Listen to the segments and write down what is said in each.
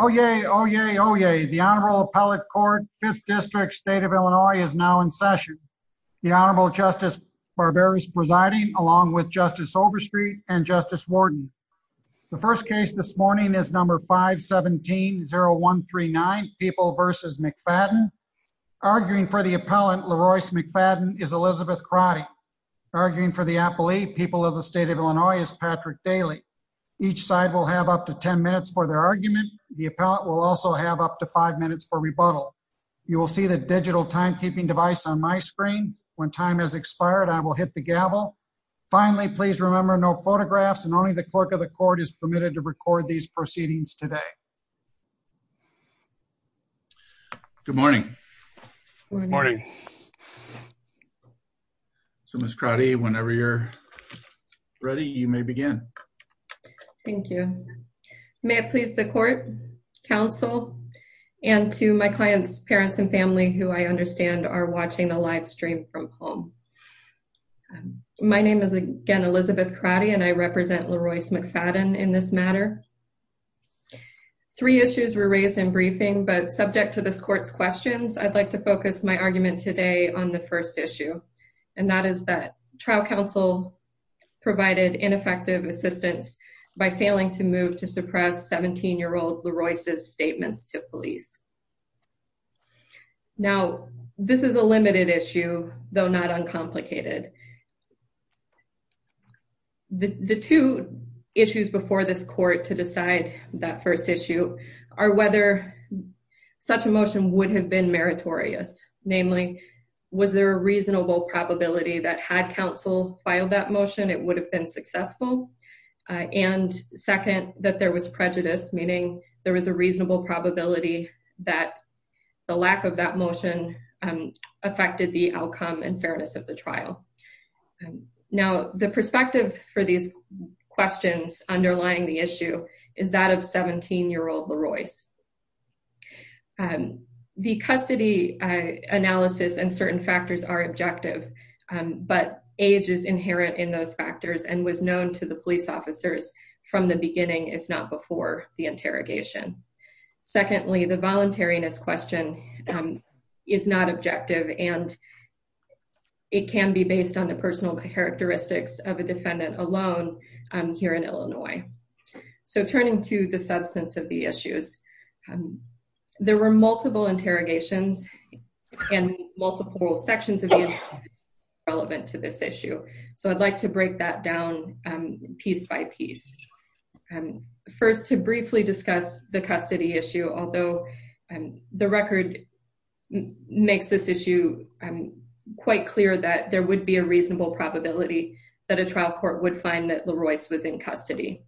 Oh, yay. Oh, yay. Oh, yay. The Honorable Appellate Court, 5th District, State of Illinois is now in session. The Honorable Justice Barber is presiding along with Justice Overstreet and Justice Warden. The first case this morning is number 517-0139, People v. McFadden. Arguing for the appellant, Leroyce McFadden, is Elizabeth Crotty. Arguing for the appellee, People of the State of Illinois, is Patrick Daly. Each side will have up to 10 minutes for their argument. The appellant will also have up to 5 minutes for rebuttal. You will see the digital timekeeping device on my screen. When time has expired, I will hit the gavel. Finally, please remember no photographs and only the clerk of the court is permitted to record these proceedings today. Good morning. Good morning. So, Ms. Crotty, whenever you're ready, you may begin. Thank you. May it please the court, counsel, and to my clients, parents, and family who I understand are watching the live stream from home. My name is again Elizabeth Crotty, and I represent Leroyce McFadden in this matter. Three issues were raised in briefing, but subject to this court's questions, I'd like to focus my argument today on the first issue, and that is that trial counsel provided ineffective assistance by failing to move to suppress 17-year-old Leroyce's statements to police. Now, this is a limited issue, though not uncomplicated. The two issues before this court to decide that first issue are whether such a motion would have been meritorious. Namely, was there a reasonable probability that had counsel filed that motion, it would have been successful? And second, that there was prejudice, meaning there was a reasonable probability that the lack of that motion affected the outcome and fairness of the trial. Now, the perspective for these questions underlying the issue is that of 17-year-old Leroyce. The custody analysis and certain factors are objective, but age is inherent in those factors and was known to the police officers from the beginning, if not before the interrogation. Secondly, the voluntariness question is not objective, and it can be based on the personal characteristics of a defendant alone here in Illinois. So turning to the substance of the issues, there were multiple interrogations and multiple sections of the interrogation relevant to this issue. So I'd like to break that down piece by piece. First, to briefly discuss the custody issue, although the record makes this issue quite clear that there would be a reasonable probability that a trial court would find that Leroyce was in custody.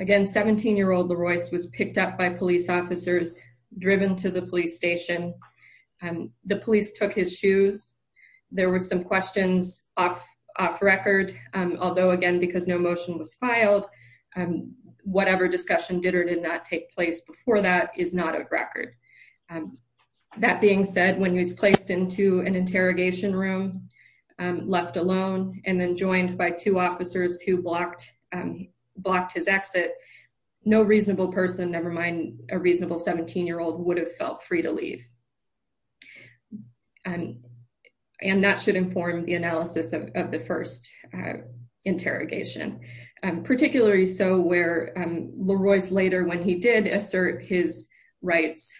Again, 17-year-old Leroyce was picked up by police officers, driven to the police station. The police took his shoes. There were some questions off record, although again, because no motion was filed, whatever discussion did or did not take place before that is not a record. That being said, when he was placed into an interrogation room, left alone, and then joined by two officers who blocked his exit, no reasonable person, never mind a reasonable 17-year-old, would have felt free to leave. And that should inform the analysis of the first interrogation, particularly so where Leroyce later, when he did assert his rights,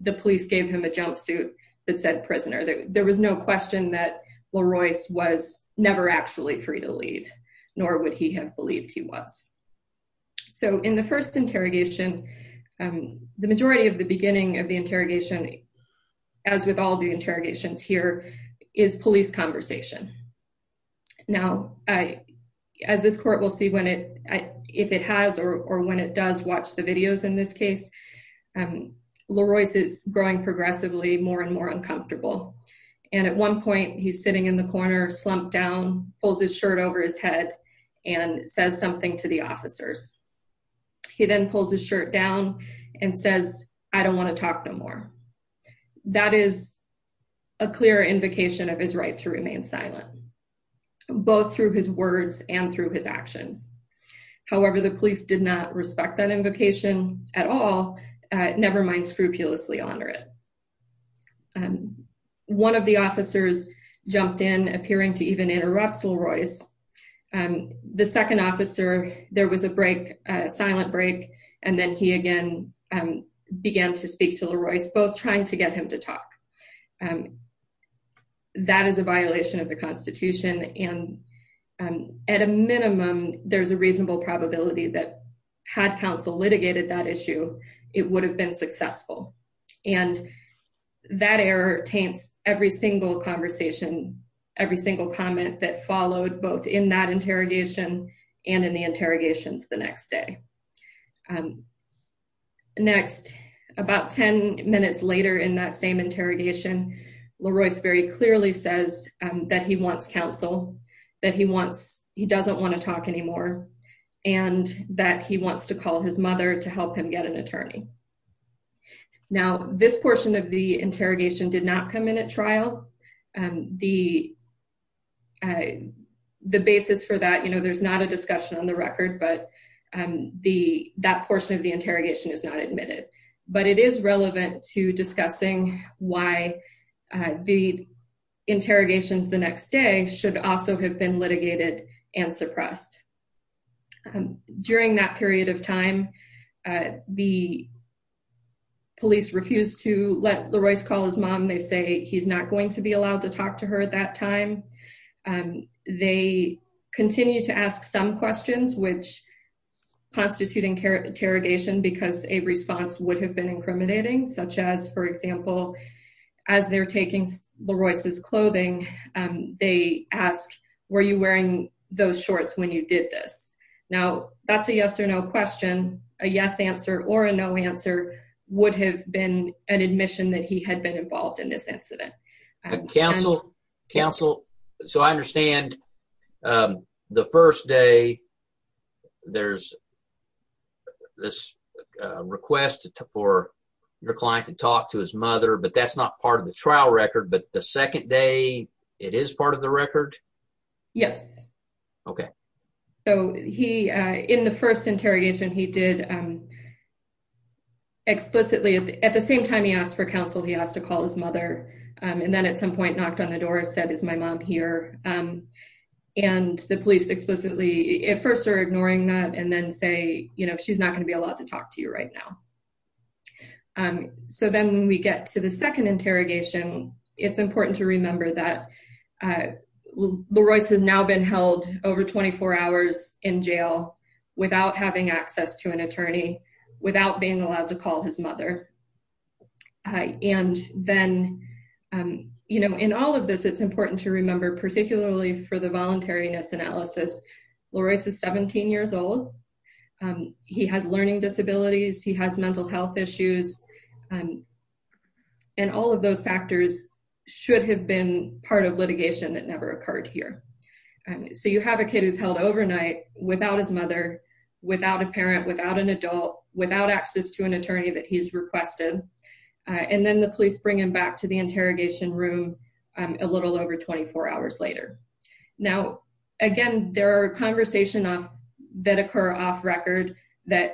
the police gave him a jumpsuit that said prisoner. There was no question that Leroyce was never actually free to leave, nor would he have believed he was. So in the first interrogation, the majority of the beginning of the interrogation, as with all the interrogations here, is police conversation. Now, as this court will see if it has or when it does watch the videos in this case, Leroyce is growing progressively more and more uncomfortable. And at one point, he's sitting in the corner, slumped down, pulls his shirt over his head, and says something to the officers. He then pulls his shirt down and says, I don't want to talk no more. That is a clear invocation of his right to remain silent, both through his words and through his actions. However, the police did not respect that invocation at all, never mind scrupulously honor it. One of the officers jumped in appearing to even interrupt Leroyce. The second officer, there was a break, a silent break. And then he again, began to speak to Leroyce, both trying to get him to talk. That is a violation of the issue. It would have been successful. And that error taints every single conversation, every single comment that followed both in that interrogation and in the interrogations the next day. Next, about 10 minutes later in that same interrogation, Leroyce very clearly says that he wants counsel, that he wants, he doesn't want to talk anymore, and that he wants to call his mother to help him get an attorney. Now, this portion of the interrogation did not come in at trial. The basis for that, you know, there's not a discussion on the record, but that portion of the interrogation is not admitted. But it is relevant to discussing why the interrogations the next day should also have been litigated and suppressed. During that period of time, the police refused to let Leroyce call his mom. They say he's not going to be allowed to talk to her at that time. They continue to ask some questions, which constitute interrogation because a response would have been incriminating, such as, for example, as they're taking Leroyce's clothing, they ask, were you wearing those shorts when you did this? Now, that's a yes or no question. A yes answer or a no answer would have been an admission that he had been involved in this incident. Counsel, counsel, so I understand the first day there's this request for your client to talk to his mother, but that's not part of the trial record, but the second day, it is part of the record? Yes. Okay. So he, in the first interrogation, he did explicitly, at the same time he asked for counsel, he asked to call his mother, and then at some point knocked on the door and said, is my mom here? And the police explicitly, at first, are ignoring that and then say, you know, she's not going to be allowed to talk to you right now. So then when we get to the second interrogation, it's important to remember that Leroyce has now been held over 24 hours in jail without having access to an attorney, without being allowed to call his mother. And then, you know, in all of this, it's important to remember, particularly for the voluntariness analysis, Leroyce is 17 years old. He has learning disabilities. He has mental health issues. And all of those factors should have been part of litigation that never occurred here. So you have a kid who's held overnight without his mother, without a parent, without an adult, without access to an attorney that he's requested. And then the police bring him back to the interrogation room a little over 24 hours later. Now, again, there are conversations that occur off record that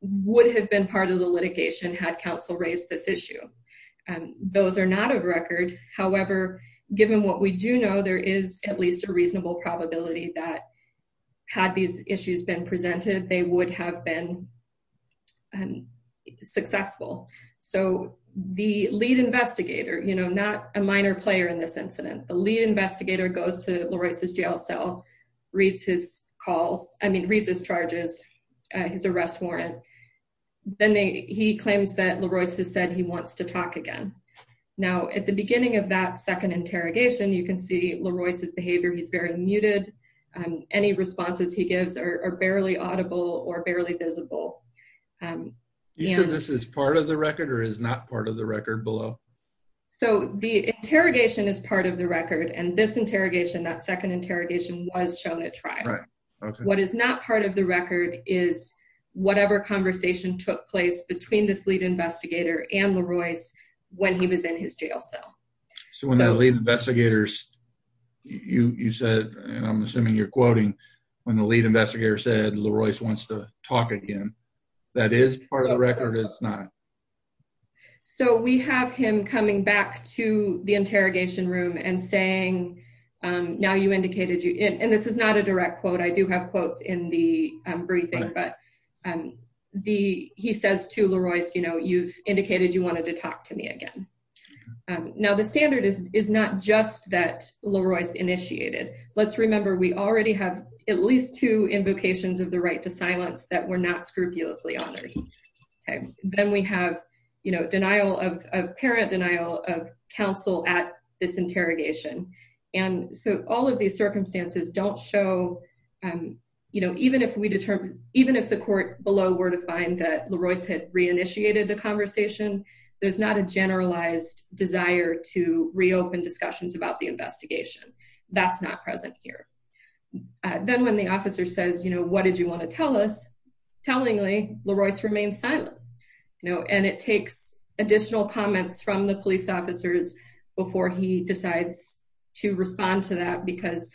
would have been part of the litigation had counsel raised this issue. Those are not off record. However, given what we do know, there is at least a reasonable probability that had these issues been presented, they would have been successful. So the lead investigator, you know, not a minor player in this incident, the lead investigator goes to Leroyce's jail cell, reads his calls, I mean, reads his charges, his arrest warrant. Then he claims that Leroyce has said he wants to talk again. Now, at the beginning of that second interrogation, you can see Leroyce's behavior, he's very muted. Any responses he gives are barely audible or barely visible. You said this is part of the record or is not part of the record below? So the interrogation is part of the record and this interrogation, that second interrogation, was shown at trial. What is not part of the record is whatever conversation took place between this lead investigator and Leroyce when he was in his jail cell. So when that lead investigators, you said, and I'm assuming you're quoting, when the lead investigator said Leroyce wants to talk again, that is part of the record or it's not? So we have him coming back to the interrogation room and saying, now you indicated you, and this is not a direct quote, I do have quotes in the briefing, but he says to Leroyce, you've indicated you wanted to talk to me again. Now, the standard is not just that Leroyce initiated. Let's remember, we already have at least two invocations of the right to silence that were not scrupulously honored. Okay. Then we have denial of, apparent denial of counsel at this interrogation. And so all of these circumstances don't show, even if we determined, even if the court below were to find that Leroyce had re-initiated the conversation, there's not a generalized desire to reopen discussions about the investigation. That's not present here. Then when the officer says, what did you want to tell us? Tellingly, Leroyce remains silent, and it takes additional comments from the police officers before he decides to respond to that, because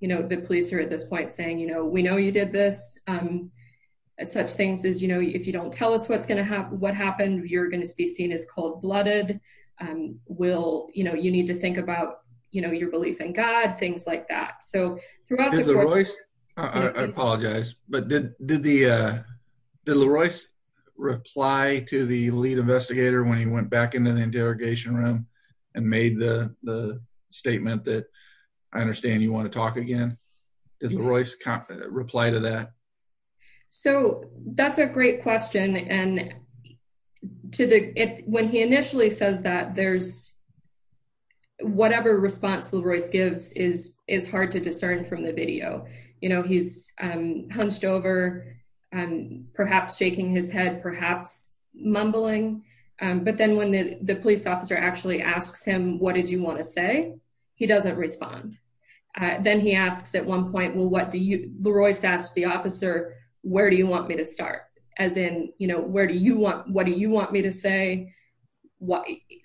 the police are at this point saying, we know you did this. Such things as, if you don't tell us what's going to happen, what happened, you're going to be seen as cold blooded. You need to think about, you know, your belief in God, things like that. So throughout the court- Did Leroyce, I apologize, but did Leroyce reply to the lead investigator when he went back into the interrogation room and made the statement that I understand you want to talk again? Did Leroyce reply to that? So that's a great question. And to the, when he initially says that, there's, whatever response Leroyce gives is hard to discern from the video. You know, he's hunched over, perhaps shaking his head, perhaps mumbling. But then when the police officer actually asks him, what did you want to say? He doesn't respond. Then he asks at one point, well, what do you, Leroyce asked the officer, where do you want me to start? As in, you know, where do you want, what do you want me to say?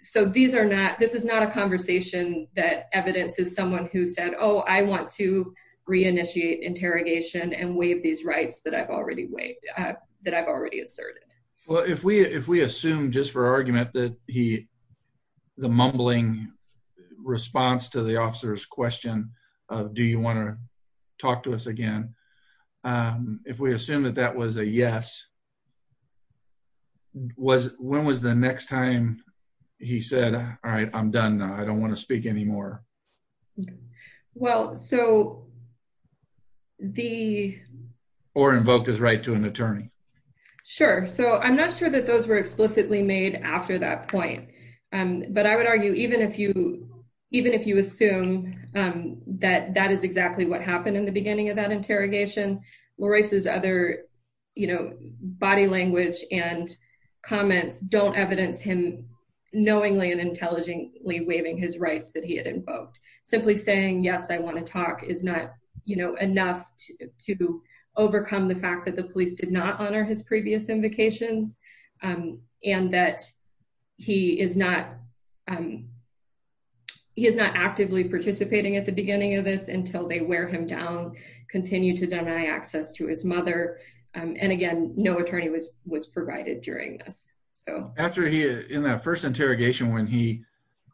So these are not, this is not a conversation that evidences someone who said, oh, I want to reinitiate interrogation and waive these rights that I've already waived, that I've already asserted. Well, if we, if we assume just for argument that he, the mumbling response to the officer's question of, do you want to talk to us again? If we assume that that was a yes, was, when was the next time he said, all right, I'm done now. I don't want to speak anymore. Well, so the. Or invoked his right to an attorney. Sure. So I'm not sure that those were explicitly made after that point. But I would argue, even if you, even if you assume that that is exactly what happened in the beginning of that interrogation, Leroyce's other, you know, body language and comments don't evidence him knowingly and intelligently waiving his rights that he had invoked. Simply saying, yes, I want to talk is not you know, enough to overcome the fact that the police did not honor his previous invocations. Um, and that he is not, um, he is not actively participating at the beginning of this until they wear him down, continue to deny access to his mother. Um, and again, no attorney was, was provided during this. So. After he, in that first interrogation, when he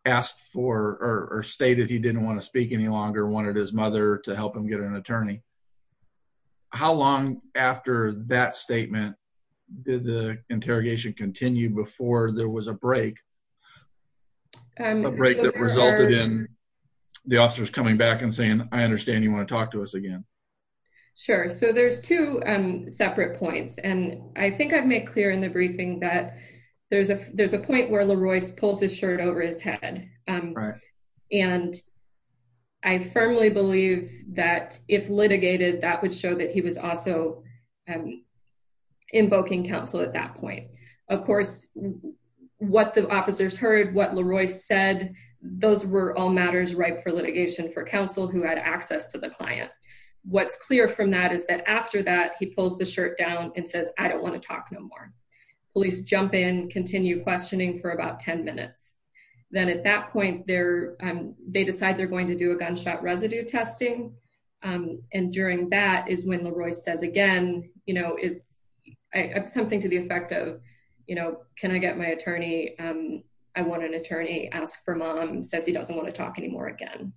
asked for, or stated he didn't want to speak any longer, wanted his mother to help him get an attorney. How long after that statement did the interrogation continue before there was a break, a break that resulted in the officers coming back and saying, I understand you want to talk to us again. Sure. So there's two separate points. And I think I've made clear in the briefing that there's a, there's a point where Leroyce pulls his shirt over his head. Um, and I firmly believe that if litigated, that would show that he was also, um, invoking counsel at that point. Of course, what the officers heard, what Leroyce said, those were all matters right for litigation for counsel who had access to the client. What's clear from that is that after that he pulls the shirt down and says, I don't want to talk no more. Police jump in, continue questioning for about 10 minutes. Then at that point there, um, they decide they're going to do a gunshot residue testing. Um, and during that is when Leroyce says again, you know, is something to the effect of, you know, can I get my attorney? Um, I want an attorney ask for mom says he doesn't want to talk anymore again.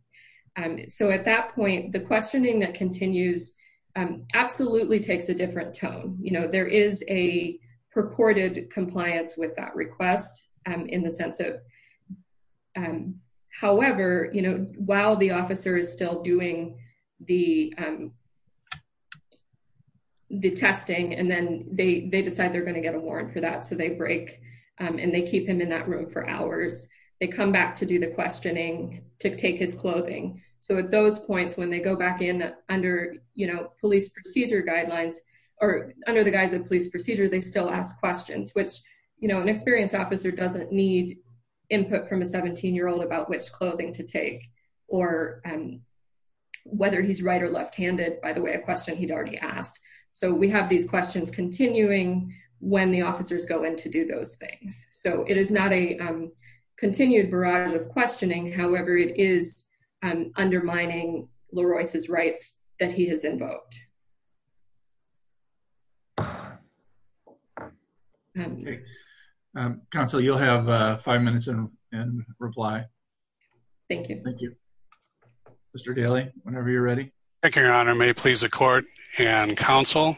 Um, so at that point, the questioning that continues, um, absolutely takes a different tone. You know, there is a purported compliance with that request, um, the sense of, um, however, you know, while the officer is still doing the, um, the testing, and then they, they decide they're going to get a warrant for that. So they break, and they keep him in that room for hours. They come back to do the questioning to take his clothing. So at those points, when they go back in under, you know, police procedure guidelines, or under the guise of police procedure, they still ask questions, which, you know, an experienced officer doesn't need input from a 17 year old about which clothing to take, or whether he's right or left handed, by the way, a question he'd already asked. So we have these questions continuing when the officers go in to do those things. So it is not a continued barrage of questioning. However, it is undermining Leroyce's rights that he has invoked. Counsel, you'll have five minutes and reply. Thank you. Mr. Daly, whenever you're ready. Thank you, Your Honor. May it please the court and counsel.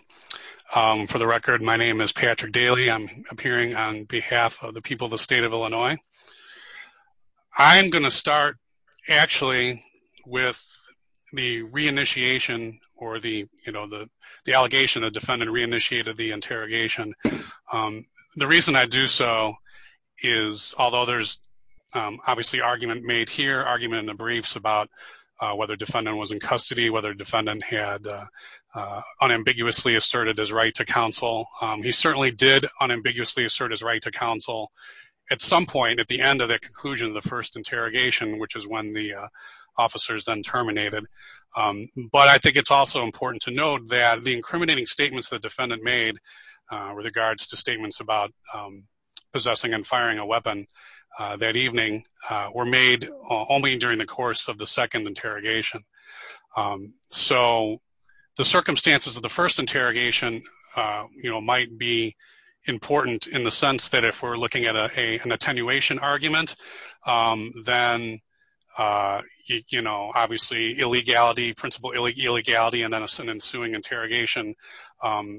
For the record, my name is Patrick Daly. I'm appearing on behalf of the people of the state of Illinois. I'm going to start actually, with the reinitiation, or the, you know, the, the allegation of defendant reinitiated the interrogation. The reason I do so is, although there's obviously argument made here argument in the briefs about whether defendant was in custody, whether defendant had unambiguously asserted his right to counsel, he certainly did unambiguously assert his right to counsel, at some point at the end of that conclusion, the first interrogation, which is when the officers then terminated. But I think it's also important to note that the incriminating statements that defendant made, with regards to statements about possessing and firing a weapon, that evening, were made only during the course of the second interrogation. So, the circumstances of the first interrogation, you know, might be important in the sense that if we're looking at a, an attenuation argument, then, you know, obviously, illegality, principle illegality, and then an ensuing interrogation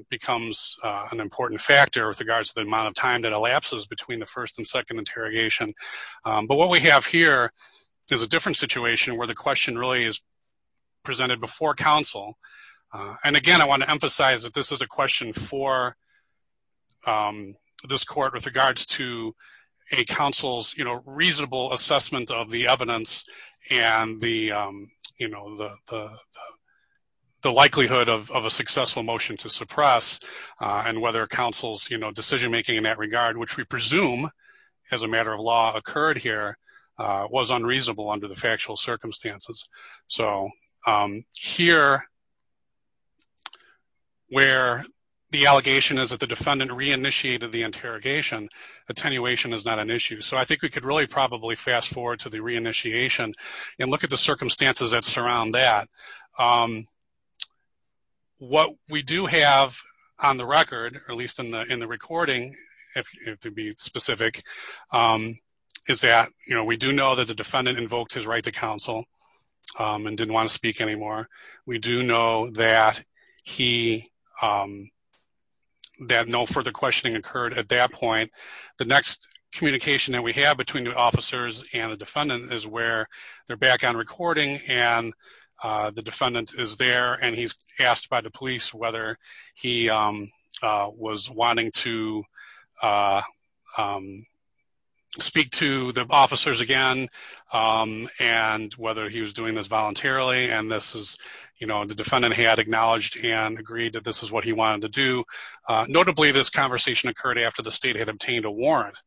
becomes an important factor with regards to the amount of time that elapses between the first and second interrogation. But what we have here is a different situation where the question really is presented before counsel. And again, I want to emphasize that this is a question for this court with regards to a counsel's, you know, the likelihood of a successful motion to suppress, and whether counsel's, you know, decision making in that regard, which we presume, as a matter of law occurred here, was unreasonable under the factual circumstances. So, here, where the allegation is that the defendant re-initiated the interrogation, attenuation is not an issue. So, I think we could really probably fast forward to the re-initiation and look at the circumstances that surround that. What we do have on the record, or at least in the recording, if to be specific, is that, you know, we do know that the defendant invoked his right to counsel and didn't want to speak anymore. We do know that he, that no further questioning occurred at that point. The next communication that we have between the is where they're back on recording, and the defendant is there, and he's asked by the police whether he was wanting to speak to the officers again, and whether he was doing this voluntarily. And this is, you know, the defendant had acknowledged and agreed that this is what he wanted to do. Notably, this conversation occurred after the state had obtained a warrant.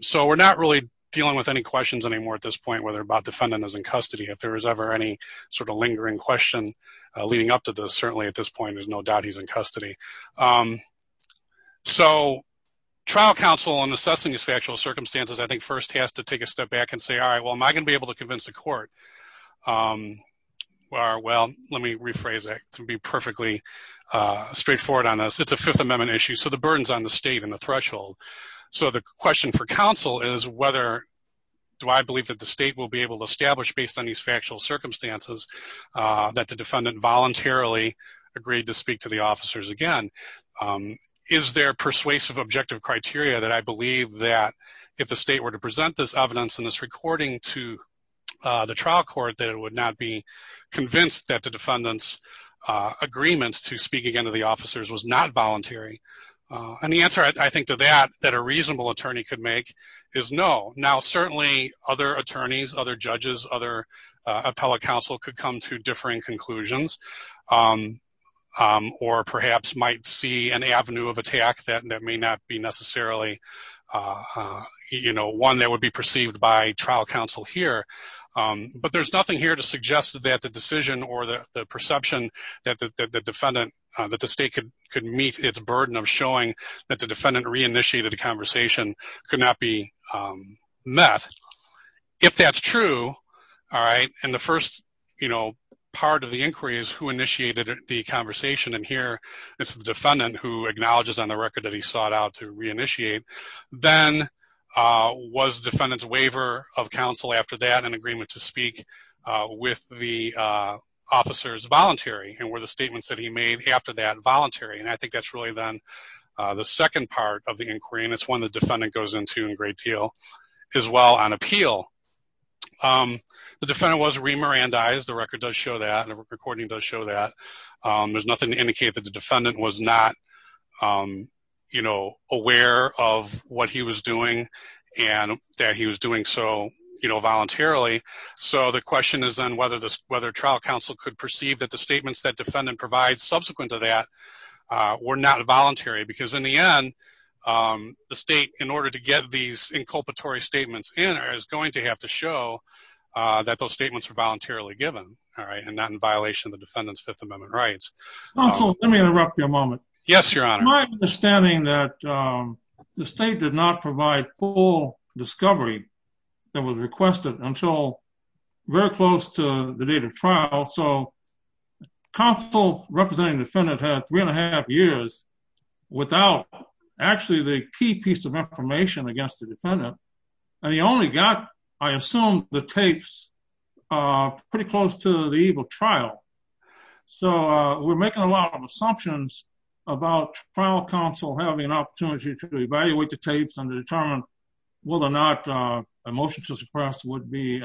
So, we're not really dealing with any questions anymore at this point, whether or not the defendant is in custody. If there is ever any sort of lingering question leading up to this, certainly at this point, there's no doubt he's in custody. So, trial counsel in assessing these factual circumstances, I think, first has to take a step back and say, all right, well, am I going to be able to convince the court? Well, let me rephrase that to be perfectly straightforward on this. It's a Fifth Amendment issue, so the burden is on the state and the threshold. So, the question for counsel is whether, do I believe that the state will be able to establish, based on these factual circumstances, that the defendant voluntarily agreed to speak to the officers again? Is there persuasive objective criteria that I believe that if the state were to present this evidence in this recording to the trial court, that it would not be convinced that the defendant's agreement to speak again to the officers was not voluntary? And the answer, I think, to that, that a reasonable attorney could make is no. Now, certainly, other attorneys, other judges, other appellate counsel could come to differing conclusions, or perhaps might see an avenue of attack that may not be necessarily one that would be perceived by trial counsel here. But there's nothing here to suggest that the decision or the perception that the defendant, that the state could meet its burden of showing that the defendant reinitiated the conversation could not be met. If that's true, all right, and the first, you know, part of the inquiry is who initiated the conversation, and here it's the defendant who acknowledges on the record that sought out to reinitiate. Then was defendant's waiver of counsel after that an agreement to speak with the officers voluntary, and were the statements that he made after that voluntary? And I think that's really then the second part of the inquiry, and it's one the defendant goes into a great deal as well on appeal. The defendant was remirandized, the record does show that, and the recording does show that. There's nothing to indicate that the defendant was not you know, aware of what he was doing, and that he was doing so, you know, voluntarily. So the question is then whether trial counsel could perceive that the statements that defendant provides subsequent to that were not voluntary, because in the end, the state, in order to get these inculpatory statements in, is going to have to show that those statements were voluntarily given, all right, and not in violation of the defendant's Fifth Amendment rights. Counsel, let me interrupt you a moment. Yes, your honor. My understanding that the state did not provide full discovery that was requested until very close to the date of trial, so counsel representing defendant had three and a half years without actually the key piece of information against the defendant, and he only got, I assume, the tapes pretty close to the date. We're making a lot of assumptions about trial counsel having an opportunity to evaluate the tapes and determine whether or not a motion to suppress would be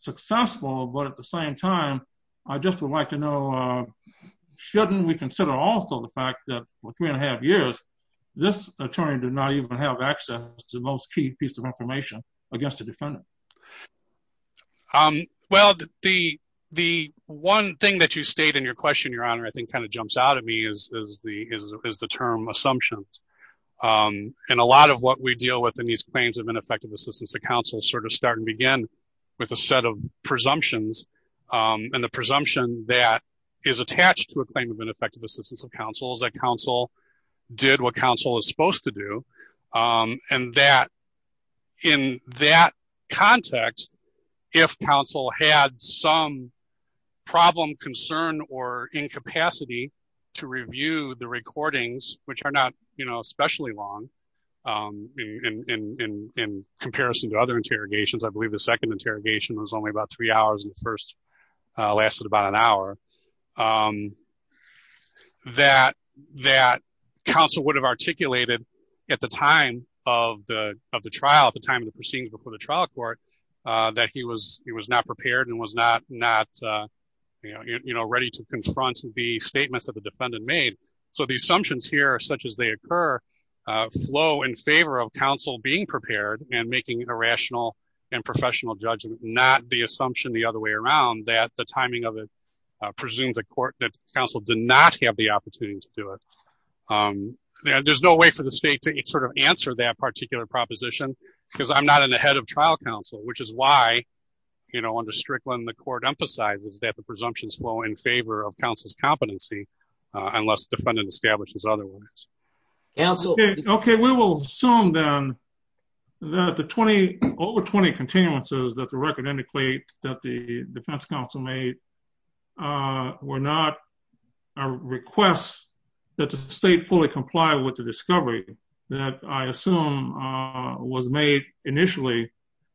successful, but at the same time, I just would like to know, shouldn't we consider also the fact that for three and a half years, this attorney did not even have access to the most key piece of information against the defendant? The first thing that you state in your question, your honor, I think kind of jumps out at me is the term assumptions, and a lot of what we deal with in these claims of ineffective assistance of counsel sort of start and begin with a set of presumptions, and the presumption that is attached to a claim of ineffective assistance of counsel is that counsel did what counsel is supposed to do, and that in that context, if counsel had some problem, concern, or incapacity to review the recordings, which are not, you know, especially long in comparison to other interrogations, I believe the second interrogation was only about three hours, and the first lasted about an hour, and that counsel would have articulated at the time of the trial, at the time of the proceedings before the trial court, that he was not prepared and was not, you know, ready to confront the statements that the defendant made, so the assumptions here, such as they occur, flow in favor of counsel being prepared and making a rational and professional judgment, not the presumed that counsel did not have the opportunity to do it. There's no way for the state to sort of answer that particular proposition, because I'm not in the head of trial counsel, which is why, you know, under Strickland, the court emphasizes that the presumptions flow in favor of counsel's competency, unless the defendant establishes otherwise. Okay, we will assume then that the were not a request that the state fully comply with the discovery that I assume was made initially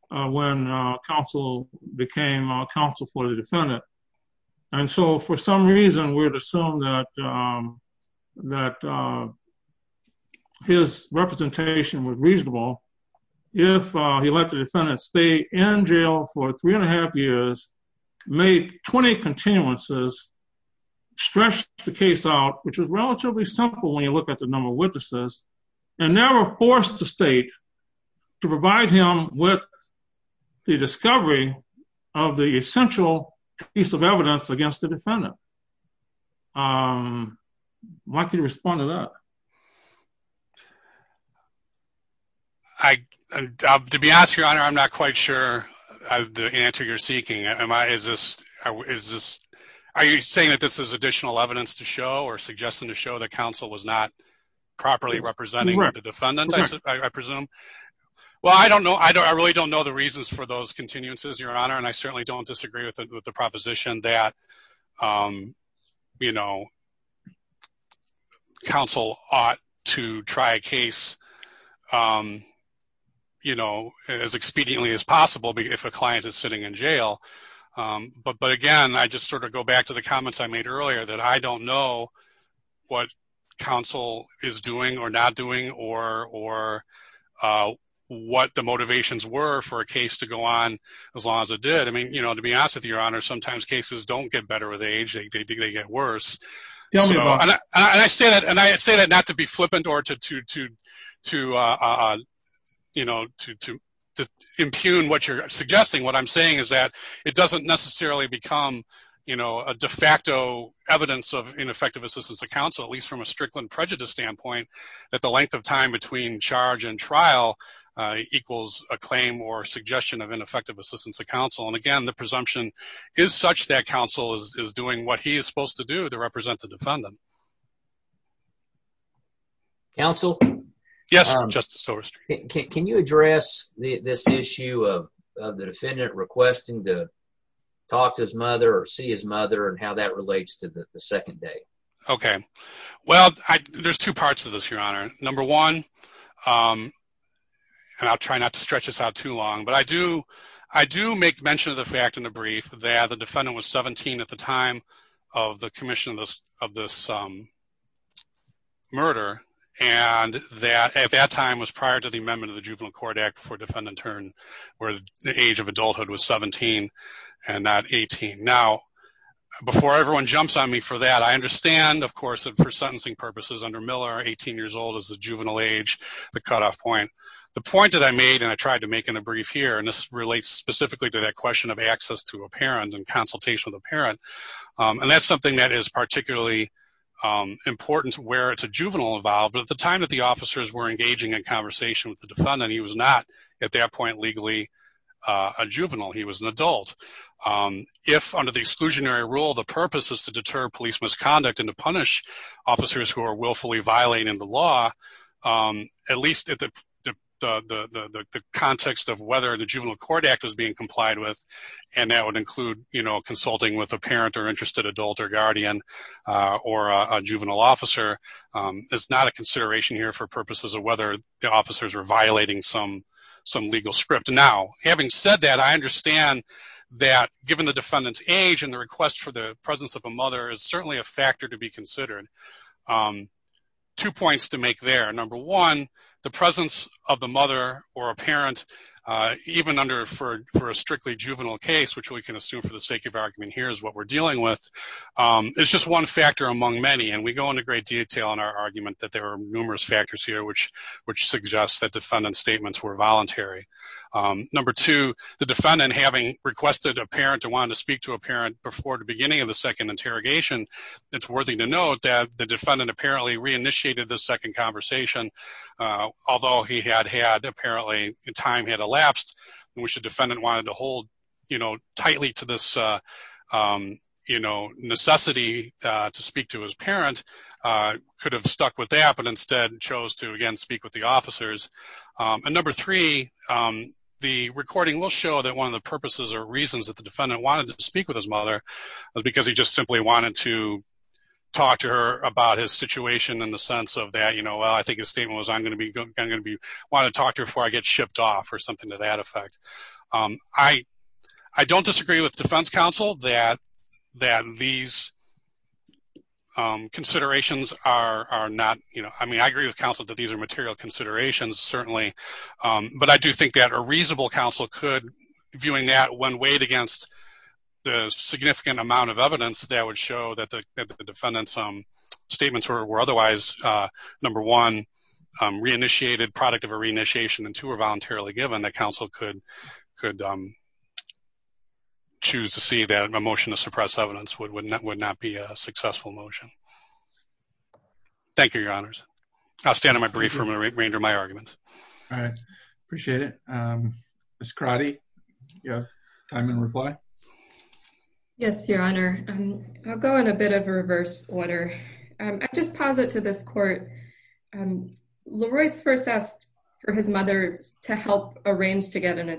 when counsel became counsel for the defendant, and so for some reason, we would assume that that his representation was reasonable if he let the defendant stay in jail for three and a half years, made 20 continuances, stretched the case out, which was relatively simple when you look at the number of witnesses, and never forced the state to provide him with the discovery of the essential piece of evidence against the defendant. I'd like you to respond to that. I, to be honest, Your Honor, I'm not quite sure the answer you're seeking. Am I, is this, is this, are you saying that this is additional evidence to show or suggesting to show that counsel was not properly representing the defendant, I presume? Well, I don't know, I really don't know the reasons for those continuances, Your Honor, and I certainly don't disagree with the proposition that, you know, counsel ought to try a case, you know, as expediently as possible, but if a client is sitting in jail, but again, I just sort of go back to the comments I made earlier that I don't know what counsel is doing or not doing or, or what the motivations were for a case to go on as long as it did. I mean, you know, to be honest with you, Your Honor, sometimes cases don't get better with age, they get worse. And I say that, and I say that not to be flippant or to, to, to, you know, to, to impugn what you're suggesting. What I'm saying is that it doesn't necessarily become, you know, a de facto evidence of ineffective assistance to counsel, at least from a Strickland prejudice standpoint, that the length of time between charge and trial equals a claim or suggestion of ineffective assistance to counsel. And again, the presumption is such that counsel is doing what he is supposed to do to represent the defendant. Counsel? Yes, Justice Doris. Can you address this issue of the defendant requesting to talk to his mother or see his mother and how that relates to the second date? Okay. Well, I, there's two parts of this, Your Honor. Number one, and I'll try not to stretch this out too long, but I do, I do make mention of the fact in the brief that the defendant was 17 at the time of the commission of this, of this murder. And that, at that time was prior to the amendment of the Juvenile Court Act for defendant turn, where the age of adulthood was 17 and not 18. Now, before everyone jumps on me for that, I understand, of course, that for sentencing purposes under Miller, 18 years old is the juvenile age, the cutoff point. The point that I made, and I tried to make in a brief here, and this relates specifically to that question of access to a parent and consultation with a parent. And that's something that is particularly important to where it's a juvenile involved. But at the time that the officers were engaging in conversation with the defendant, he was not at that point, legally a juvenile. He was an adult. If under the exclusionary rule, the purpose is to deter police misconduct and to punish officers who are willfully violating the law, at least at the context of whether the Juvenile Court Act is being complied with. And that would include, you know, consulting with a parent or interested adult or guardian, or a juvenile officer is not a consideration here for purposes of whether the officers are violating some, some legal script. Now, having said that, I understand that given the defendant's age and the request for the presence of a mother is certainly a factor to be considered. Two points to make there. Number one, the presence of the mother or a parent, even under for, for a strictly juvenile case, which we can assume for the sake of argument here is what we're dealing with. It's just one factor among many, and we go into great detail in our argument that there are numerous factors here, which, which suggests that defendant statements were voluntary. Number two, the defendant having requested a parent who wanted to speak to a parent before the beginning of the second interrogation, it's worthy to note that the defendant apparently reinitiated the second conversation, although he had had apparently time had elapsed, which the defendant wanted to hold, you know, tightly to this, you know, necessity to speak to his parent could have stuck with that, but instead chose to again, speak with the officers. And number three, the recording will show that one of the purposes or reasons that the defendant wanted to speak with his mother was because he just simply wanted to talk to her about his situation in the sense of that, you know, well, I think his statement was, I'm going to be going to be wanting to talk to her before I get shipped off or something to that effect. I, I don't disagree with defense counsel that that these considerations are not, you know, I mean, I agree with counsel that these are material considerations, certainly. But I do think that a reasonable counsel could viewing that when weighed against the significant amount of evidence that would show that the defendant's statements were otherwise, number one, reinitiated product of a reinitiation and two are voluntarily given that counsel could, could choose to see that emotion to suppress evidence would, wouldn't that would not be a successful motion. Thank you, your honors. I'll stand on my brief from a range of my arguments. All right. Appreciate it. Um, Miss karate. Yeah. I'm in reply. Yes, your honor. I'll go in a bit of a reverse order. I just pause it to this court. Um, Leroy's first asked for his mother to help arrange to get an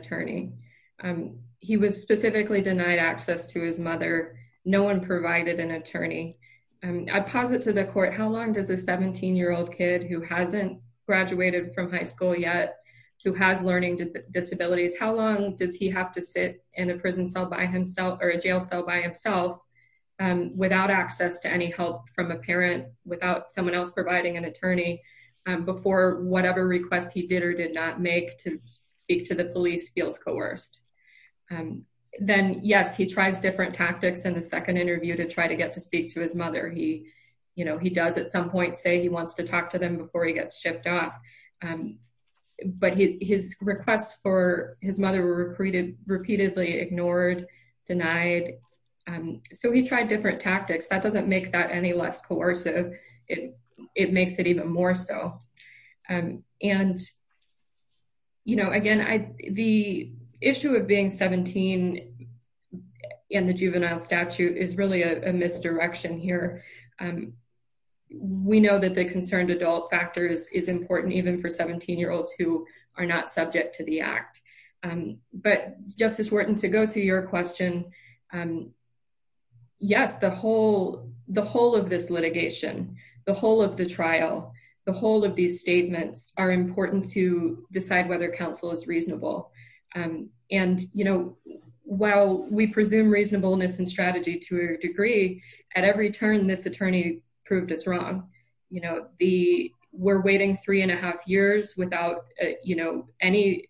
no one provided an attorney. Um, I posit to the court, how long does a 17 year old kid who hasn't graduated from high school yet, who has learning disabilities, how long does he have to sit in a prison cell by himself or a jail cell by himself, um, without access to any help from a parent without someone else providing an attorney, um, before whatever request he did or did not make to speak to the police feels coerced. Um, then yes, he tries different tactics in the second interview to try to get to speak to his mother. He, you know, he does at some point say he wants to talk to them before he gets shipped off. Um, but he, his requests for his mother were repeated, repeatedly ignored, denied. Um, so he tried different tactics that doesn't make that any coercive. It, it makes it even more so. Um, and you know, again, I, the issue of being 17 in the juvenile statute is really a misdirection here. Um, we know that the concerned adult factors is important even for 17 year olds who are not subject to the act. Um, but Justice Wharton to go to your question, um, yes, the whole, the whole of this litigation, the whole of the trial, the whole of these statements are important to decide whether counsel is reasonable. Um, and, you know, while we presume reasonableness and strategy to a degree at every turn, this attorney proved us wrong. You know, the we're waiting three and a half years without, you know, any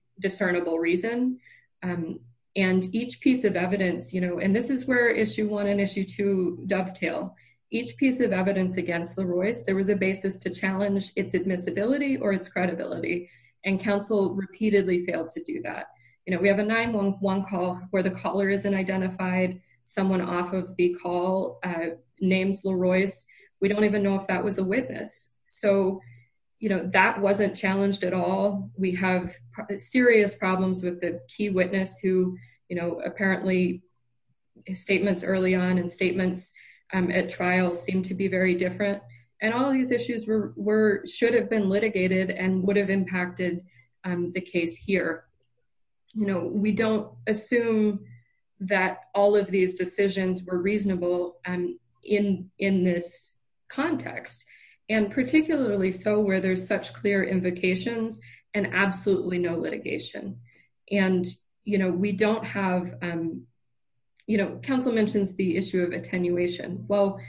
reason. Um, and each piece of evidence, you know, and this is where issue one and issue two dovetail, each piece of evidence against the Royce, there was a basis to challenge its admissibility or its credibility. And counsel repeatedly failed to do that. You know, we have a nine month one call where the caller isn't identified someone off of the call, uh, names LaRoyce. We don't even know if that was a witness. So, you know, that wasn't challenged at all. We have serious problems with the key witness who, you know, apparently statements early on and statements, um, at trial seem to be very different and all of these issues were, were, should have been litigated and would have impacted, um, the case here. You know, we don't assume that all of these decisions were reasonable, um, in, in this context and particularly so where there's such clear invocations and absolutely no litigation. And, you know, we don't have, um, you know, counsel mentions the issue of attenuation. Well,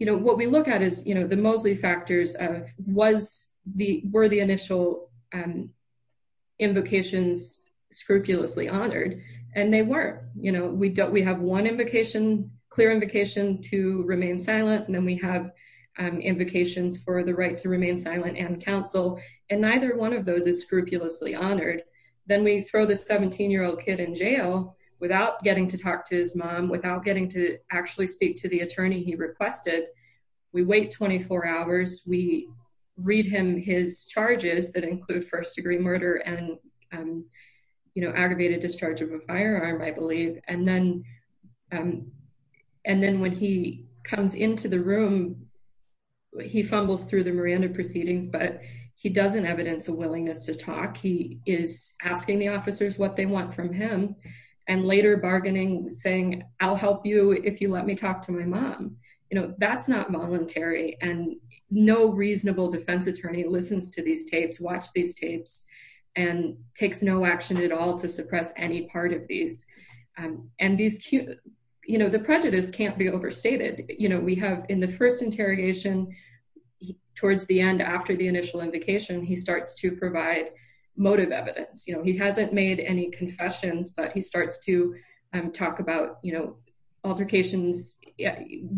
you know, what we look at is, you know, the mostly factors of was the, were the initial, um, invocations scrupulously honored and they weren't, you know, we don't, we have one invocation, clear invocation to remain silent and counsel and neither one of those is scrupulously honored. Then we throw the 17 year old kid in jail without getting to talk to his mom, without getting to actually speak to the attorney he requested. We wait 24 hours. We read him his charges that include first degree murder and, um, you know, aggravated discharge of a firearm, I believe. And then, um, and then when he comes into the room, he fumbles through the Miranda proceedings, but he doesn't evidence a willingness to talk. He is asking the officers what they want from him and later bargaining saying, I'll help you if you let me talk to my mom. You know, that's not voluntary and no reasonable defense attorney listens to these tapes, watch these tapes and takes no action at suppress any part of these. Um, and these, you know, the prejudice can't be overstated. You know, we have in the first interrogation towards the end, after the initial invocation, he starts to provide motive evidence. You know, he hasn't made any confessions, but he starts to talk about, you know, altercations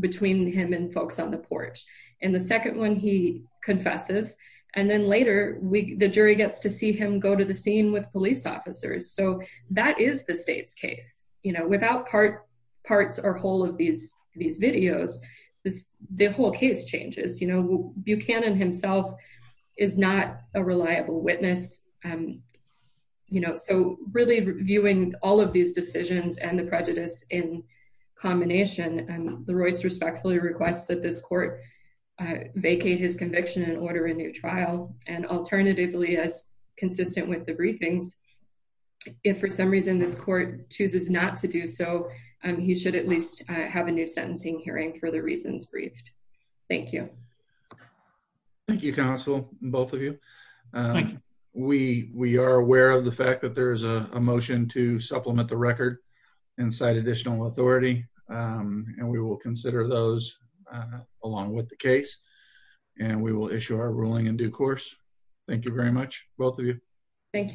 between him and folks on the porch. And the second one, he confesses. And then later we, the jury gets to see him go to the scene with police officers. So that is the state's case, you know, without part parts or whole of these, these videos, this, the whole case changes, you know, Buchanan himself is not a reliable witness. Um, you know, so really reviewing all of these decisions and the prejudice in combination, the Royce respectfully requests that this court vacate his conviction and order a new trial. And alternatively, as consistent with the briefings, if for some reason this court chooses not to do so, he should at least have a new sentencing hearing for the reasons briefed. Thank you. Thank you, counsel. Both of you. We are aware of the fact that there is a motion to and we will consider those along with the case and we will issue our ruling in due course. Thank you very much. Both of you. Thank you.